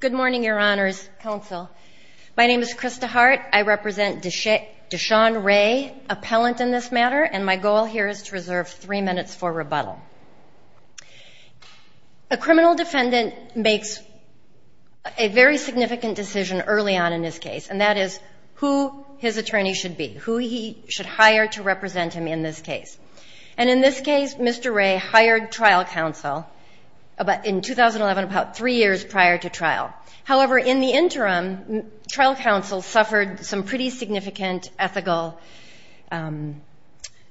Good morning, Your Honors, Counsel. My name is Krista Hart. I represent Deshawn Ray, appellant in this matter, and my goal here is to reserve three minutes for rebuttal. A criminal defendant makes a very significant decision early on in his case, and that is who his attorney should be, who he should hire to represent him in this case. And in this case, Mr. Ray hired trial counsel. In 2011, about three years prior to trial. However, in the interim, trial counsel suffered some pretty significant ethical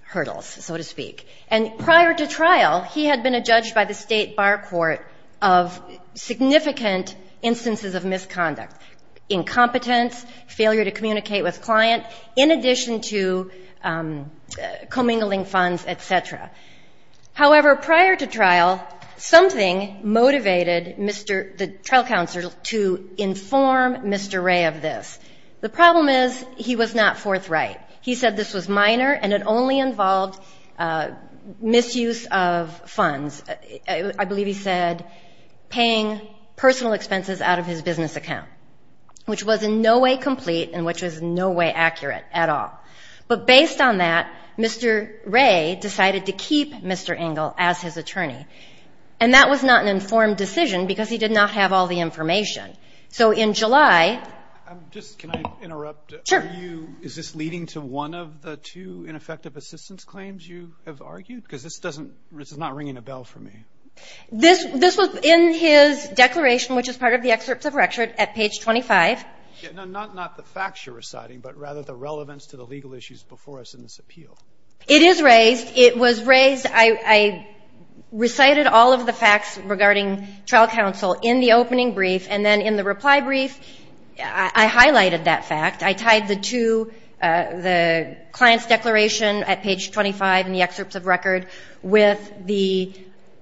hurdles, so to speak. And prior to trial, he had been adjudged by the state bar court of significant instances of misconduct, incompetence, failure to communicate with client, in addition to commingling funds, et cetera. However, prior to trial, something motivated the trial counsel to inform Mr. Ray of this. The problem is he was not forthright. He said this was minor and it only involved misuse of funds. I believe he said paying personal expenses out of his business account, which was in no way complete and which was in no way accurate at all. But based on that, Mr. Ray decided to keep Mr. Engel as his attorney. And that was not an informed decision because he did not have all the information. So in July. Just can I interrupt? Sure. Is this leading to one of the two ineffective assistance claims you have argued? Because this is not ringing a bell for me. This was in his declaration, which is part of the excerpts of record at page 25. Not the facts you're reciting, but rather the relevance to the legal issues before us in this appeal. It is raised. It was raised. I recited all of the facts regarding trial counsel in the opening brief. And then in the reply brief, I highlighted that fact. I tied the two, the client's declaration at page 25 in the excerpts of record with the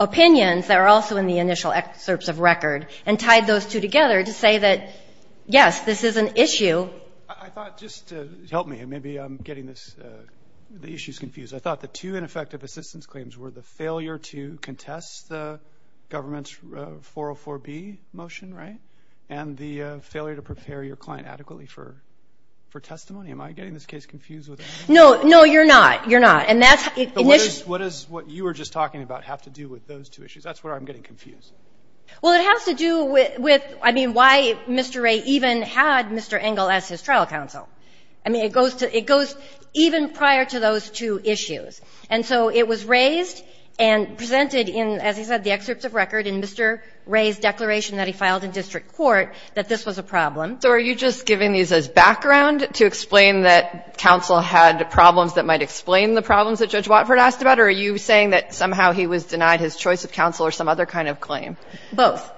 opinions that are also in the initial excerpts of record and tied those two together to say that, yes, this is an issue. I thought just to help me, and maybe I'm getting this, the issue's confused. I thought the two ineffective assistance claims were the failure to contest the government's 404B motion, right? And the failure to prepare your client adequately for testimony. Am I getting this case confused with anything? No, you're not. You're not. And that's the issue. What is what you were just talking about have to do with those two issues? That's where I'm getting confused. Well, it has to do with, I mean, why Mr. Wray even had Mr. Engel as his trial counsel? I mean, it goes to even prior to those two issues. And so it was raised and presented in, as he said, the excerpts of record in Mr. Wray's declaration that he filed in district court that this was a problem. So are you just giving these as background to explain that counsel had problems that might explain the problems that Judge Watford asked about? Or are you saying that somehow he was denied his choice of counsel or some other kind of claim? Both.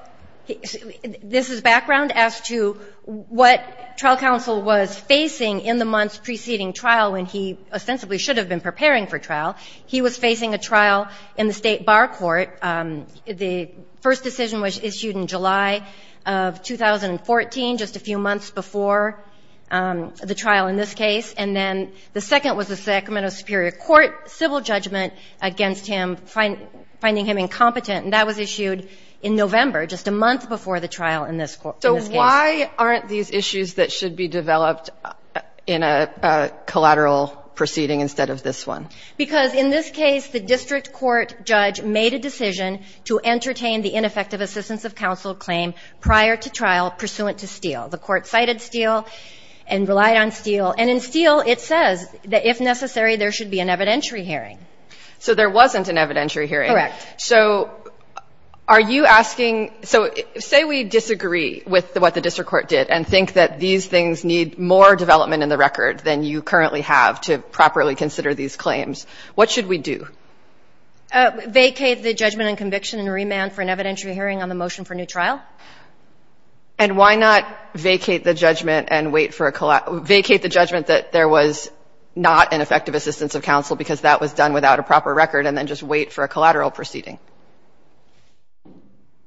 This is background as to what trial counsel was facing in the months preceding trial when he ostensibly should have been preparing for trial. He was facing a trial in the state bar court. The first decision was issued in July of 2014, just a few months before the trial in this case. And then the second was the Sacramento Superior Court civil judgment against him, finding him incompetent. And that was issued in November, just a month before the trial in this case. So why aren't these issues that should be developed in a collateral proceeding instead of this one? Because in this case, the district court judge made a decision to entertain the ineffective assistance of counsel claim prior to trial pursuant to Steele. The court cited Steele and relied on Steele. And in Steele, it says that if necessary, there should be an evidentiary hearing. So there wasn't an evidentiary hearing. Correct. So are you asking? So say we disagree with what the district court did and think that these things need more development in the record than you currently have to properly consider these claims. What should we do? Vacate the judgment and conviction and remand for an evidentiary hearing on the motion for new trial. And why not vacate the judgment and wait for a collateral? Vacate the judgment that there was not an effective assistance of counsel, because that was done without a proper record, and then just wait for a collateral proceeding.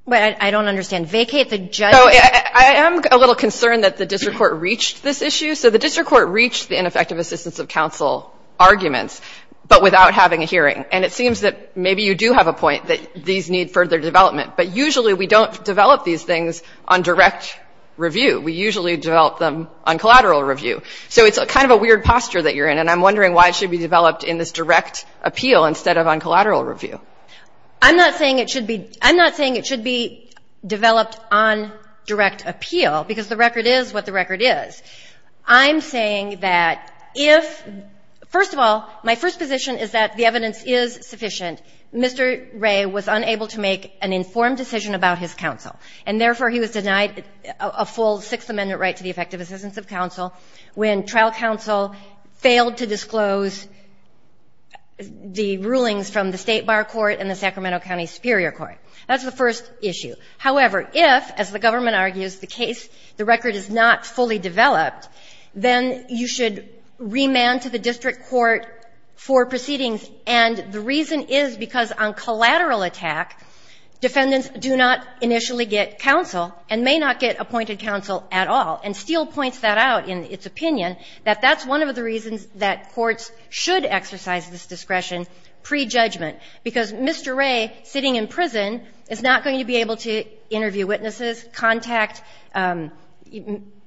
But I don't understand. Vacate the judgment? I am a little concerned that the district court reached this issue. So the district court reached the ineffective assistance of counsel arguments, but without having a hearing. And it seems that maybe you do have a point that these need further development. But usually, we don't develop these things on direct review. We usually develop them on collateral review. So it's kind of a weird posture that you're in. And I'm wondering why it should be on collateral review. I'm not saying it should be developed on direct appeal, because the record is what the record is. I'm saying that if, first of all, my first position is that the evidence is sufficient. Mr. Wray was unable to make an informed decision about his counsel. And therefore, he was denied a full Sixth Amendment right to the effective assistance of counsel when trial counsel failed to disclose the rulings from the State Bar Court and the Sacramento County Superior Court. That's the first issue. However, if, as the government argues, the case, the record is not fully developed, then you should remand to the district court for proceedings. And the reason is because on collateral attack, defendants do not initially get counsel and may not get appointed counsel at all. And Steele points that out in its opinion, that that's one of the reasons that courts should exercise this discretion pre-judgment. Because Mr. Wray, sitting in prison, is not going to be able to interview witnesses, contact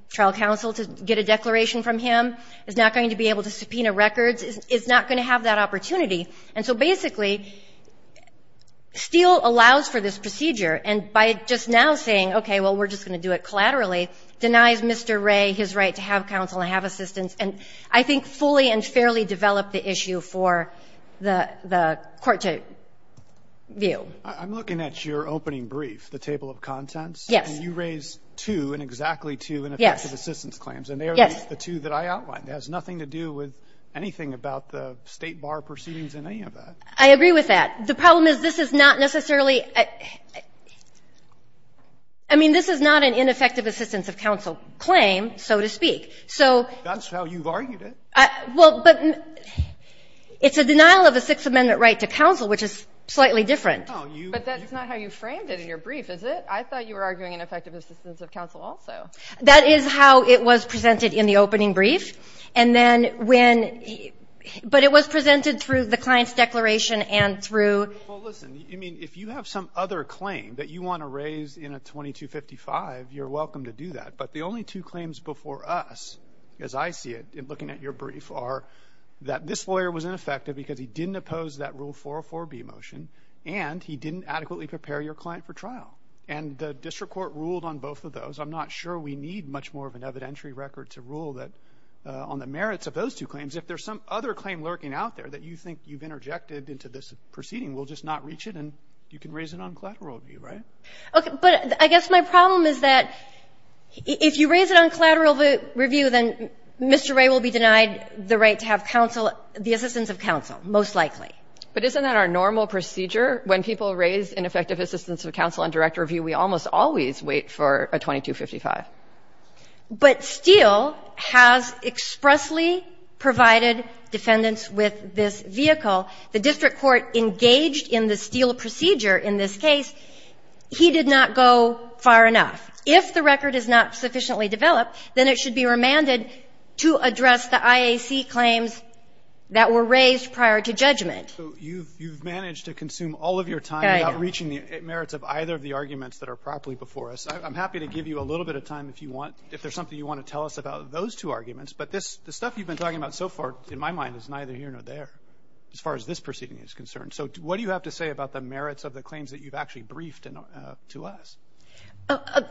trial counsel to get a declaration from him, is not going to be able to subpoena records, is not going to have that opportunity. And so basically, Steele allows for this procedure. And by just now saying, OK, well, we're just going to do it collaterally, denies Mr. Wray his right to have counsel and have assistance, and I think fully and fairly developed the issue for the court to view. I'm looking at your opening brief, the table of contents. Yes. And you raise two, and exactly two, ineffective assistance claims. And they are the two that I outlined. It has nothing to do with anything about the State Bar proceedings in any of that. I agree with that. The problem is this is not necessarily, I mean, this is not an ineffective assistance of counsel claim, so to speak. So. That's how you've argued it. Well, but it's a denial of a Sixth Amendment right to counsel, which is slightly different. But that's not how you framed it in your brief, is it? I thought you were arguing an effective assistance of counsel also. That is how it was presented in the opening brief. And then when, but it was presented through the client's declaration and through. Well, listen, I mean, if you have some other claim that you want to raise in a 2255, you're welcome to do that. But the only two claims before us, as I see it, in looking at your brief, are that this lawyer was ineffective because he didn't oppose that Rule 404B motion, and he didn't adequately prepare your client for trial. And the district court ruled on both of those. I'm not sure we need much more of an evidentiary record to rule that on the merits of those two claims. If there's some other claim lurking out there that you think you've interjected into this proceeding, we'll just not reach it, and you can raise it on collateral review, right? But I guess my problem is that if you raise it on collateral review, then Mr. Wray will be denied the right to have counsel, the assistance of counsel, most likely. But isn't that our normal procedure? When people raise ineffective assistance of counsel on direct review, we almost always wait for a 2255. But Steele has expressly provided defendants with this vehicle. The district court engaged in the Steele procedure in this case. He did not go far enough. If the record is not sufficiently developed, then it should be remanded to address the IAC claims that were raised prior to judgment. So you've managed to consume all of your time without reaching the merits of either of the arguments that are properly before us. I'm happy to give you a little bit of time if you want, if there's something you want to tell us about those two arguments. But this, the stuff you've been talking about so far in my mind is neither here nor there, as far as this proceeding is concerned. So what do you have to say about the merits of the claims that you've actually briefed to us?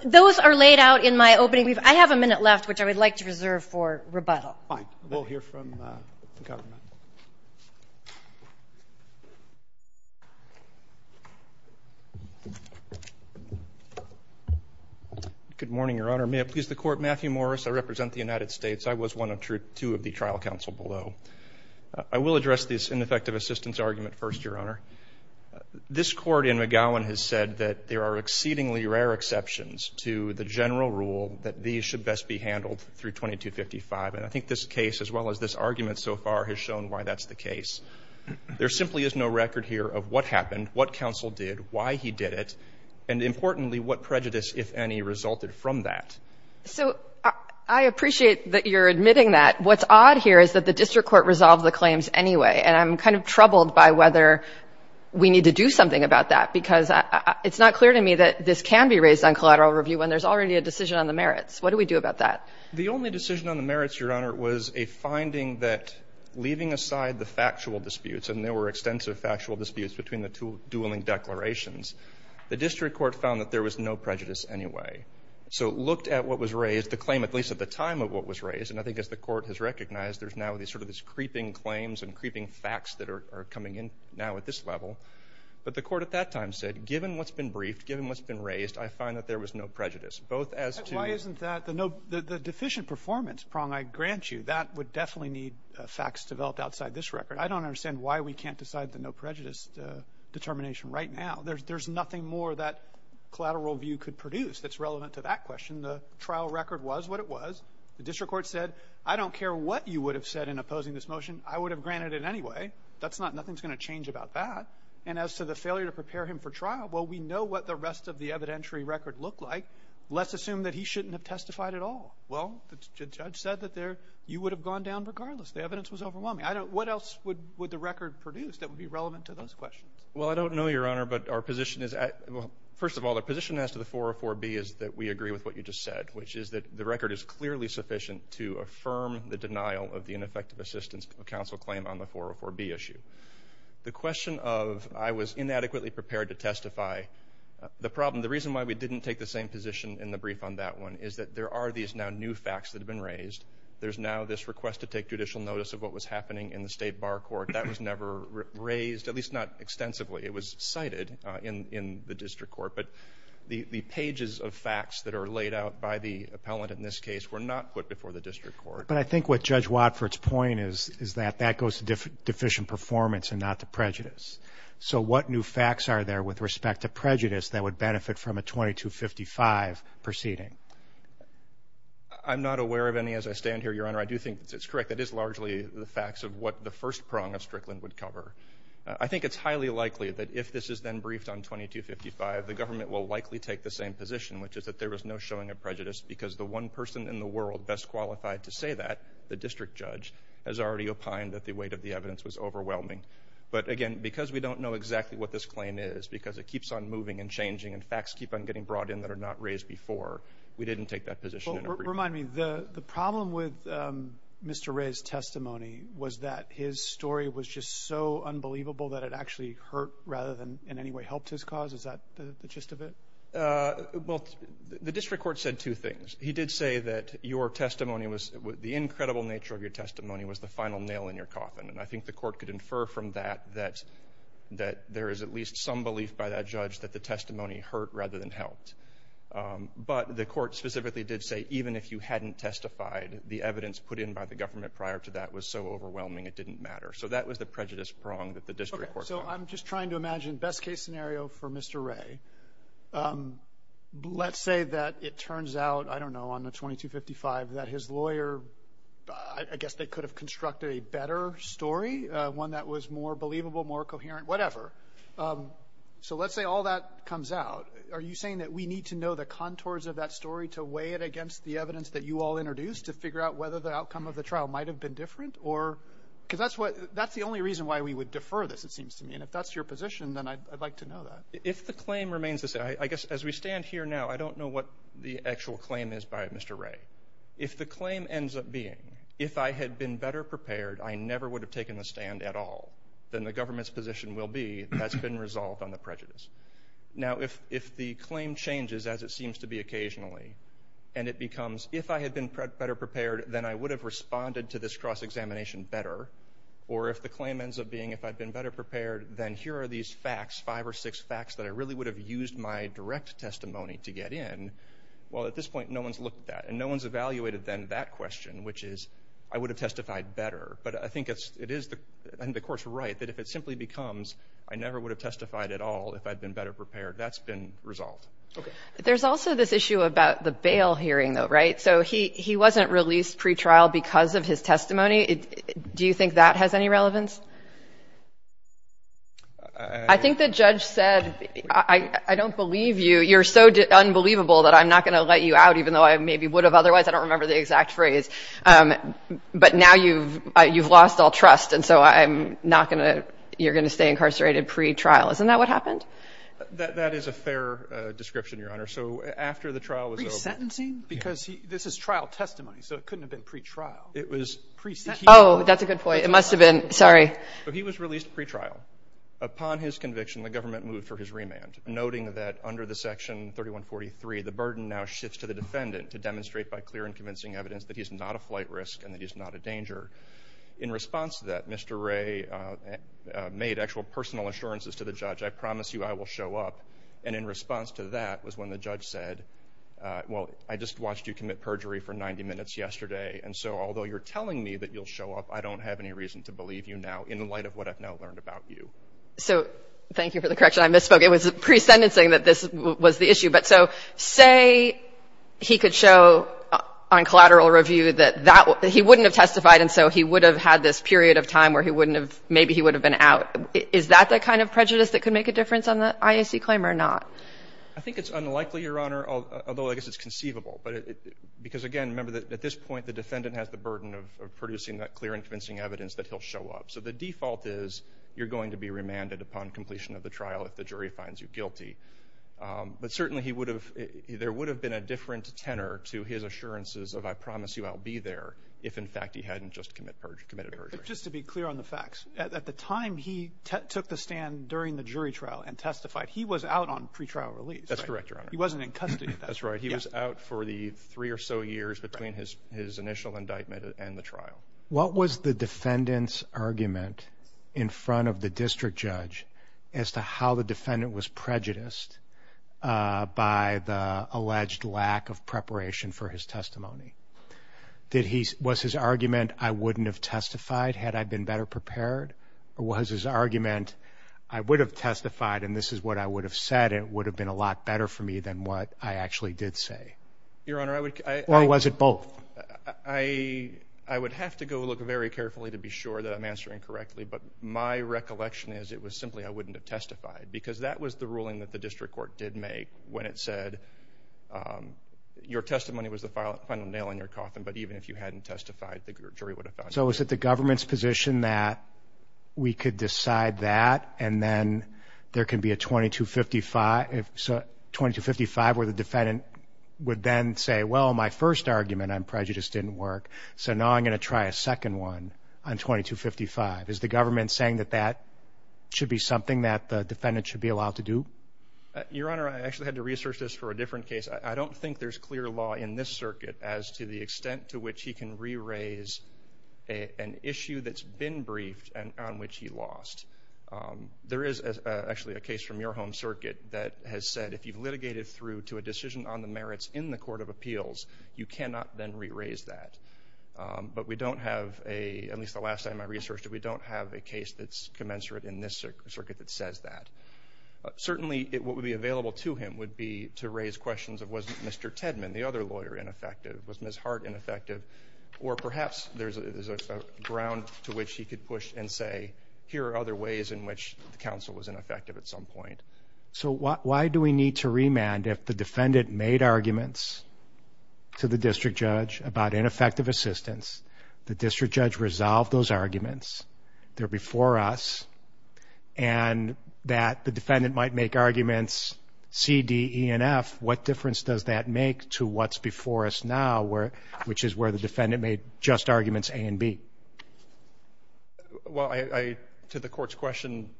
Those are laid out in my opening brief. I have a minute left, which I would like to reserve for rebuttal. Fine. We'll hear from the government. Good morning, Your Honor. May it please the court, Matthew Morris. I represent the United States. I was one of two of the trial counsel below. I will address this ineffective assistance argument first, Your Honor. This court in McGowan has said that there are exceedingly rare exceptions to the general rule that these should best be handled through 2255. And I think this case, as well as this argument so far, has shown why that's the case. There simply is no record here of what happened, what counsel did, why he did it, and importantly, what prejudice, if any, resulted from that. So I appreciate that you're admitting that. What's odd here is that the district court resolved the claims anyway. And I'm kind of troubled by whether we need to do something about that, because it's not clear to me that this can be raised on collateral review when there's already a decision on the merits. What do we do about that? The only decision on the merits, Your Honor, was a finding that, leaving aside the factual disputes, and there were extensive factual disputes between the two dueling declarations, the district court found that there was no prejudice anyway. So looked at what was raised, the claim, at least at the time of what was raised, and I think as the court has recognized, there's now sort of this creeping claims and creeping facts that are coming in now at this level. But the court at that time said, given what's been briefed, given what's been raised, I find that there was no prejudice. Both as to- Why isn't that, the deficient performance prong, I grant you, that would definitely need facts developed outside this record. I don't understand why we can't decide the no prejudice determination right now. There's nothing more that collateral review could produce that's relevant to that question. The trial record was what it was. The district court said, I don't care what you would've said in opposing this motion, I would've granted it anyway. That's not, nothing's gonna change about that. And as to the failure to prepare him for trial, well, we know what the rest of the evidentiary record looked like, let's assume that he shouldn't have testified at all. Well, the judge said that there, you would've gone down regardless. The evidence was overwhelming. What else would the record produce that would be relevant to those questions? Well, I don't know, Your Honor, but our position is, first of all, our position as to the 404B is that we agree with what you just said, which is that the record is clearly sufficient to affirm the denial of the ineffective assistance of counsel claim on the 404B issue. The question of, I was inadequately prepared to testify, the problem, the reason why we didn't take the same position in the brief on that one is that there are these now new facts that have been raised. There's now this request to take judicial notice of what was happening in the state bar court. That was never raised, at least not extensively. It was cited in the district court, but the pages of facts that are laid out by the appellant in this case were not put before the district court. But I think what Judge Watford's point is is that that goes to deficient performance and not to prejudice. So what new facts are there with respect to prejudice that would benefit from a 2255 proceeding? I'm not aware of any as I stand here, Your Honor. I do think it's correct. That is largely the facts of what the first prong of Strickland would cover. I think it's highly likely that if this is then briefed on 2255, the government will likely take the same position, which is that there was no showing of prejudice because the one person in the world best qualified to say that, the district judge, has already opined that the weight of the evidence was overwhelming. But again, because we don't know exactly what this claim is, because it keeps on moving and changing and facts keep on getting brought in that are not raised before, we didn't take that position in the brief. Well, remind me, the problem with Mr. Ray's testimony was that his story was just so unbelievable that it actually hurt rather than in any way helped his cause. Is that the gist of it? Well, the district court said two things. He did say that your testimony was, the incredible nature of your testimony was the final nail in your coffin. And I think the court could infer from that that there is at least some belief by that judge that the testimony hurt rather than helped. But the court specifically did say, even if you hadn't testified, the evidence put in by the government prior to that was so overwhelming it didn't matter. So that was the prejudice prong that the district court found. Okay, so I'm just trying to imagine best case scenario for Mr. Ray. Let's say that it turns out, I don't know, on the 2255 that his lawyer, I guess they could have constructed a better story, one that was more believable, more coherent, whatever. So let's say all that comes out. Are you saying that we need to know the contours of that story to weigh it against the evidence that you all introduced to figure out whether the outcome of the trial might have been different? Because that's the only reason why we would defer this, it seems to me. And if that's your position, then I'd like to know that. If the claim remains the same, I guess as we stand here now, I don't know what the actual claim is by Mr. Ray. If the claim ends up being, if I had been better prepared, I never would have taken the stand at all, then the government's position will be that's been resolved on the prejudice. Now, if the claim changes as it seems to be occasionally, and it becomes, if I had been better prepared, then I would have responded to this cross-examination better. Or if the claim ends up being, if I'd been better prepared, then here are these facts, five or six facts, that I really would have used my direct testimony to get in. Well, at this point, no one's looked at, and no one's evaluated then that question, which is, I would have testified better. But I think it is, and the court's right, that if it simply becomes, I never would have testified at all if I'd been better prepared, that's been resolved. There's also this issue about the bail hearing, though. So he wasn't released pretrial because of his testimony. Do you think that has any relevance? I think the judge said, I don't believe you. You're so unbelievable that I'm not gonna let you out, even though I maybe would have otherwise. I don't remember the exact phrase. But now you've lost all trust, and so you're gonna stay incarcerated pretrial. Isn't that what happened? That is a fair description, Your Honor. So after the trial was over- This is trial testimony, so it couldn't have been pretrial. It was- Oh, that's a good point. It must have been, sorry. But he was released pretrial. Upon his conviction, the government moved for his remand, noting that under the section 3143, the burden now shifts to the defendant to demonstrate by clear and convincing evidence that he's not a flight risk and that he's not a danger. In response to that, Mr. Wray made actual personal assurances to the judge. I promise you I will show up. And in response to that was when the judge said, well, I just watched you commit perjury for 90 minutes yesterday. And so although you're telling me that you'll show up, I don't have any reason to believe you now in light of what I've now learned about you. So thank you for the correction. I misspoke. It was pre-sentencing that this was the issue. But so say he could show on collateral review that he wouldn't have testified, and so he would have had this period of time where he wouldn't have, maybe he would have been out. on the IAC claim or not? I think it's unlikely, Your Honor, although I guess it's conceivable. Because again, remember that at this point, the defendant has the burden of producing that clear and convincing evidence that he'll show up. So the default is you're going to be remanded upon completion of the trial if the jury finds you guilty. But certainly there would have been a different tenor to his assurances of I promise you I'll be there if in fact he hadn't just committed perjury. Just to be clear on the facts, at the time he took the stand during the jury trial and testified, he was out on pretrial release. That's correct, Your Honor. He wasn't in custody at that point. That's right, he was out for the three or so years between his initial indictment and the trial. What was the defendant's argument in front of the district judge as to how the defendant was prejudiced by the alleged lack of preparation for his testimony? Was his argument I wouldn't have testified had I been better prepared? Or was his argument I would have testified and this is what I would have said, it would have been a lot better for me than what I actually did say? Your Honor, I would... Or was it both? I would have to go look very carefully to be sure that I'm answering correctly, but my recollection is it was simply I wouldn't have testified. Because that was the ruling that the district court did make when it said your testimony was the final nail in your coffin, but even if you hadn't testified, the jury would have found you guilty. So is it the government's position that we could decide that and then there can be a 2255, 2255 where the defendant would then say, well, my first argument on prejudice didn't work, so now I'm gonna try a second one on 2255. Is the government saying that that should be something that the defendant should be allowed to do? Your Honor, I actually had to research this for a different case. I don't think there's clear law in this circuit as to the extent to which he can re-raise an issue that's been briefed and on which he lost. There is actually a case from your home circuit that has said if you've litigated through to a decision on the merits in the court of appeals, you cannot then re-raise that. But we don't have a, at least the last time I researched it, we don't have a case that's commensurate in this circuit that says that. Certainly what would be available to him would be to raise questions of was Mr. Tedman, the other lawyer, ineffective? Was Ms. Hart ineffective? Or perhaps there's a ground to which he could push and say here are other ways in which the counsel was ineffective at some point. So why do we need to remand if the defendant made arguments to the district judge about ineffective assistance, the district judge resolved those arguments, they're before us, and that the defendant might make arguments C, D, E, and F, what difference does that make to what's before us now which is where the defendant made just arguments A and B? Well, to the court's question,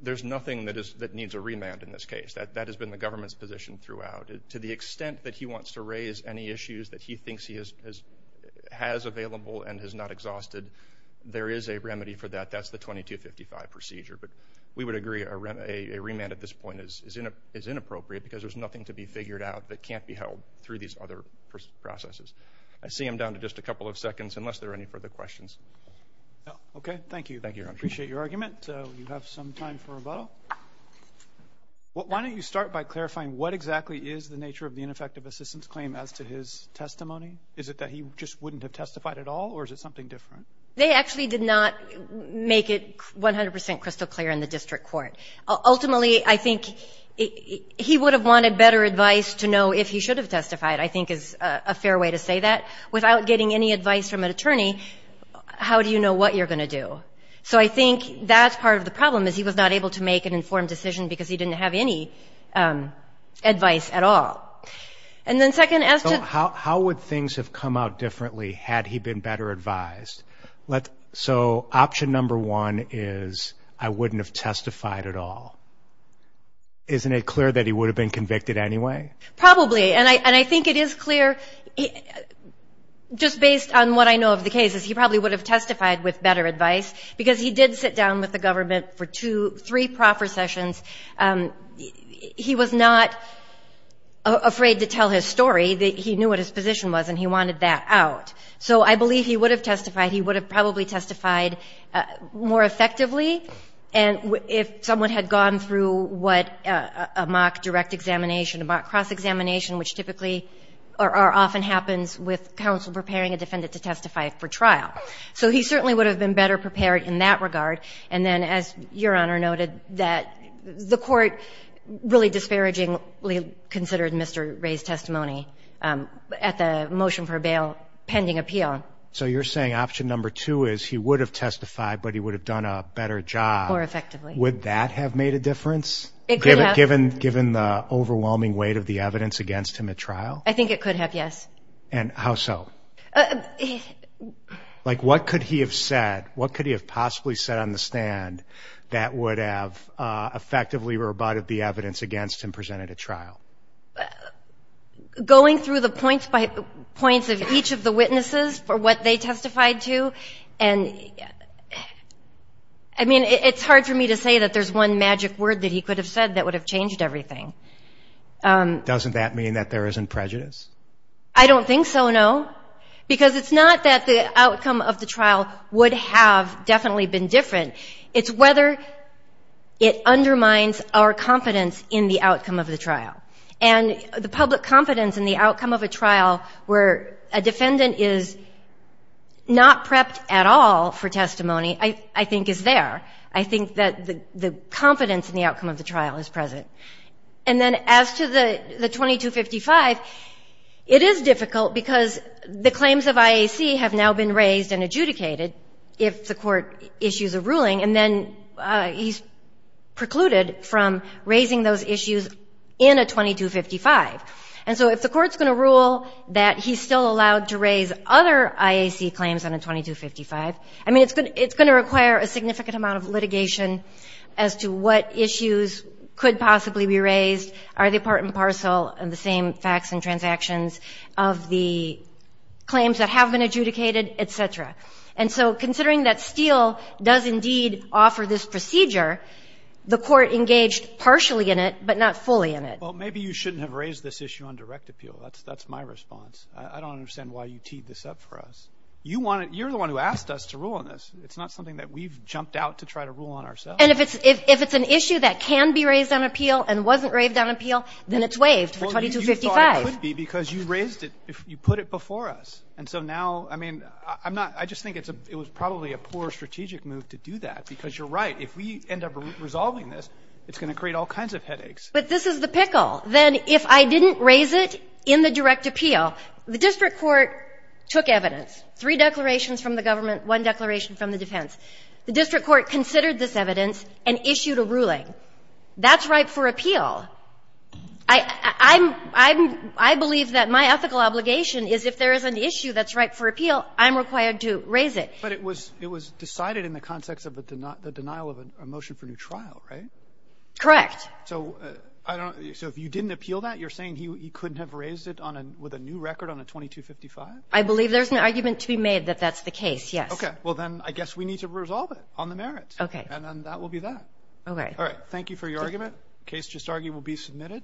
there's nothing that needs a remand in this case. That has been the government's position throughout. To the extent that he wants to raise any issues that he thinks he has available and has not exhausted, there is a remedy for that, that's the 2255 procedure. But we would agree a remand at this point is inappropriate because there's nothing to be figured out that can't be held through these other processes. I see I'm down to just a couple of seconds unless there are any further questions. Okay, thank you. Thank you, Your Honor. Appreciate your argument. You have some time for rebuttal. Why don't you start by clarifying what exactly is the nature of the ineffective assistance claim as to his testimony? Is it that he just wouldn't have testified at all or is it something different? They actually did not make it 100% crystal clear in the district court. Ultimately, I think he would have wanted better advice to know if he should have testified, I think is a fair way to say that. Without getting any advice from an attorney, how do you know what you're gonna do? So I think that's part of the problem is he was not able to make an informed decision because he didn't have any advice at all. And then second, as to- How would things have come out differently had he been better advised? So option number one is I wouldn't have testified at all. Isn't it clear that he would have been convicted anyway? Probably, and I think it is clear just based on what I know of the cases, he probably would have testified with better advice because he did sit down with the government for three proper sessions. He was not afraid to tell his story. He knew what his position was and he wanted that out. So I believe he would have testified, he would have probably testified more effectively and if someone had gone through a mock direct examination, a mock cross-examination, which typically, or often happens with counsel preparing a defendant to testify for trial. So he certainly would have been better prepared in that regard. And then as Your Honor noted, that the court really disparagingly considered Mr. Ray's testimony at the motion for bail pending appeal. So you're saying option number two is he would have testified, but he would have done a better job. More effectively. Would that have made a difference? It could have. Given the overwhelming weight of the evidence against him at trial? I think it could have, yes. And how so? Like what could he have said? What could he have possibly said on the stand that would have effectively rebutted the evidence against him presented at trial? Going through the points by points of each of the witnesses for what they testified to. And I mean, it's hard for me to say that there's one magic word that he could have said that would have changed everything. Doesn't that mean that there isn't prejudice? I don't think so, no. Because it's not that the outcome of the trial would have definitely been different. It's whether it undermines our confidence in the outcome of the trial. And the public confidence in the outcome of a trial where a defendant is not prepped at all for testimony, I think is there. I think that the confidence in the outcome of the trial is present. And then as to the 2255, it is difficult because the claims of IAC have now been raised and adjudicated if the court issues a ruling. And then he's precluded from raising those issues in a 2255. And so if the court's gonna rule that he's still allowed to raise other IAC claims on a 2255, I mean, it's gonna require a significant amount of litigation as to what issues could possibly be raised, are they part and parcel, and the same facts and transactions of the claims that have been adjudicated, et cetera. And so considering that Steele does indeed offer this procedure, the court engaged partially in it, but not fully in it. Well, maybe you shouldn't have raised this issue on direct appeal. That's my response. I don't understand why you teed this up for us. You're the one who asked us to rule on this. It's not something that we've jumped out to try to rule on ourselves. And if it's an issue that can be raised on appeal and wasn't raised on appeal, then it's waived for 2255. Well, you thought it could be because you raised it, you put it before us. And so now, I mean, I'm not, I just think it was probably a poor strategic move to do that because you're right. If we end up resolving this, it's gonna create all kinds of headaches. But this is the pickle. Then if I didn't raise it in the direct appeal, the district court took evidence, three declarations from the government, one declaration from the defense. The district court considered this evidence and issued a ruling. That's ripe for appeal. I'm, I believe that my ethical obligation is if there is an issue that's ripe for appeal, I'm required to raise it. But it was decided in the context of the denial of a motion for new trial, right? Correct. So I don't, so if you didn't appeal that, you're saying he couldn't have raised it on a, with a new record on a 2255? I believe there's an argument to be made that that's the case, yes. Okay, well then I guess we need to resolve it on the merits. Okay. And then that will be that. Okay. All right, thank you for your argument. Case just argued will be submitted.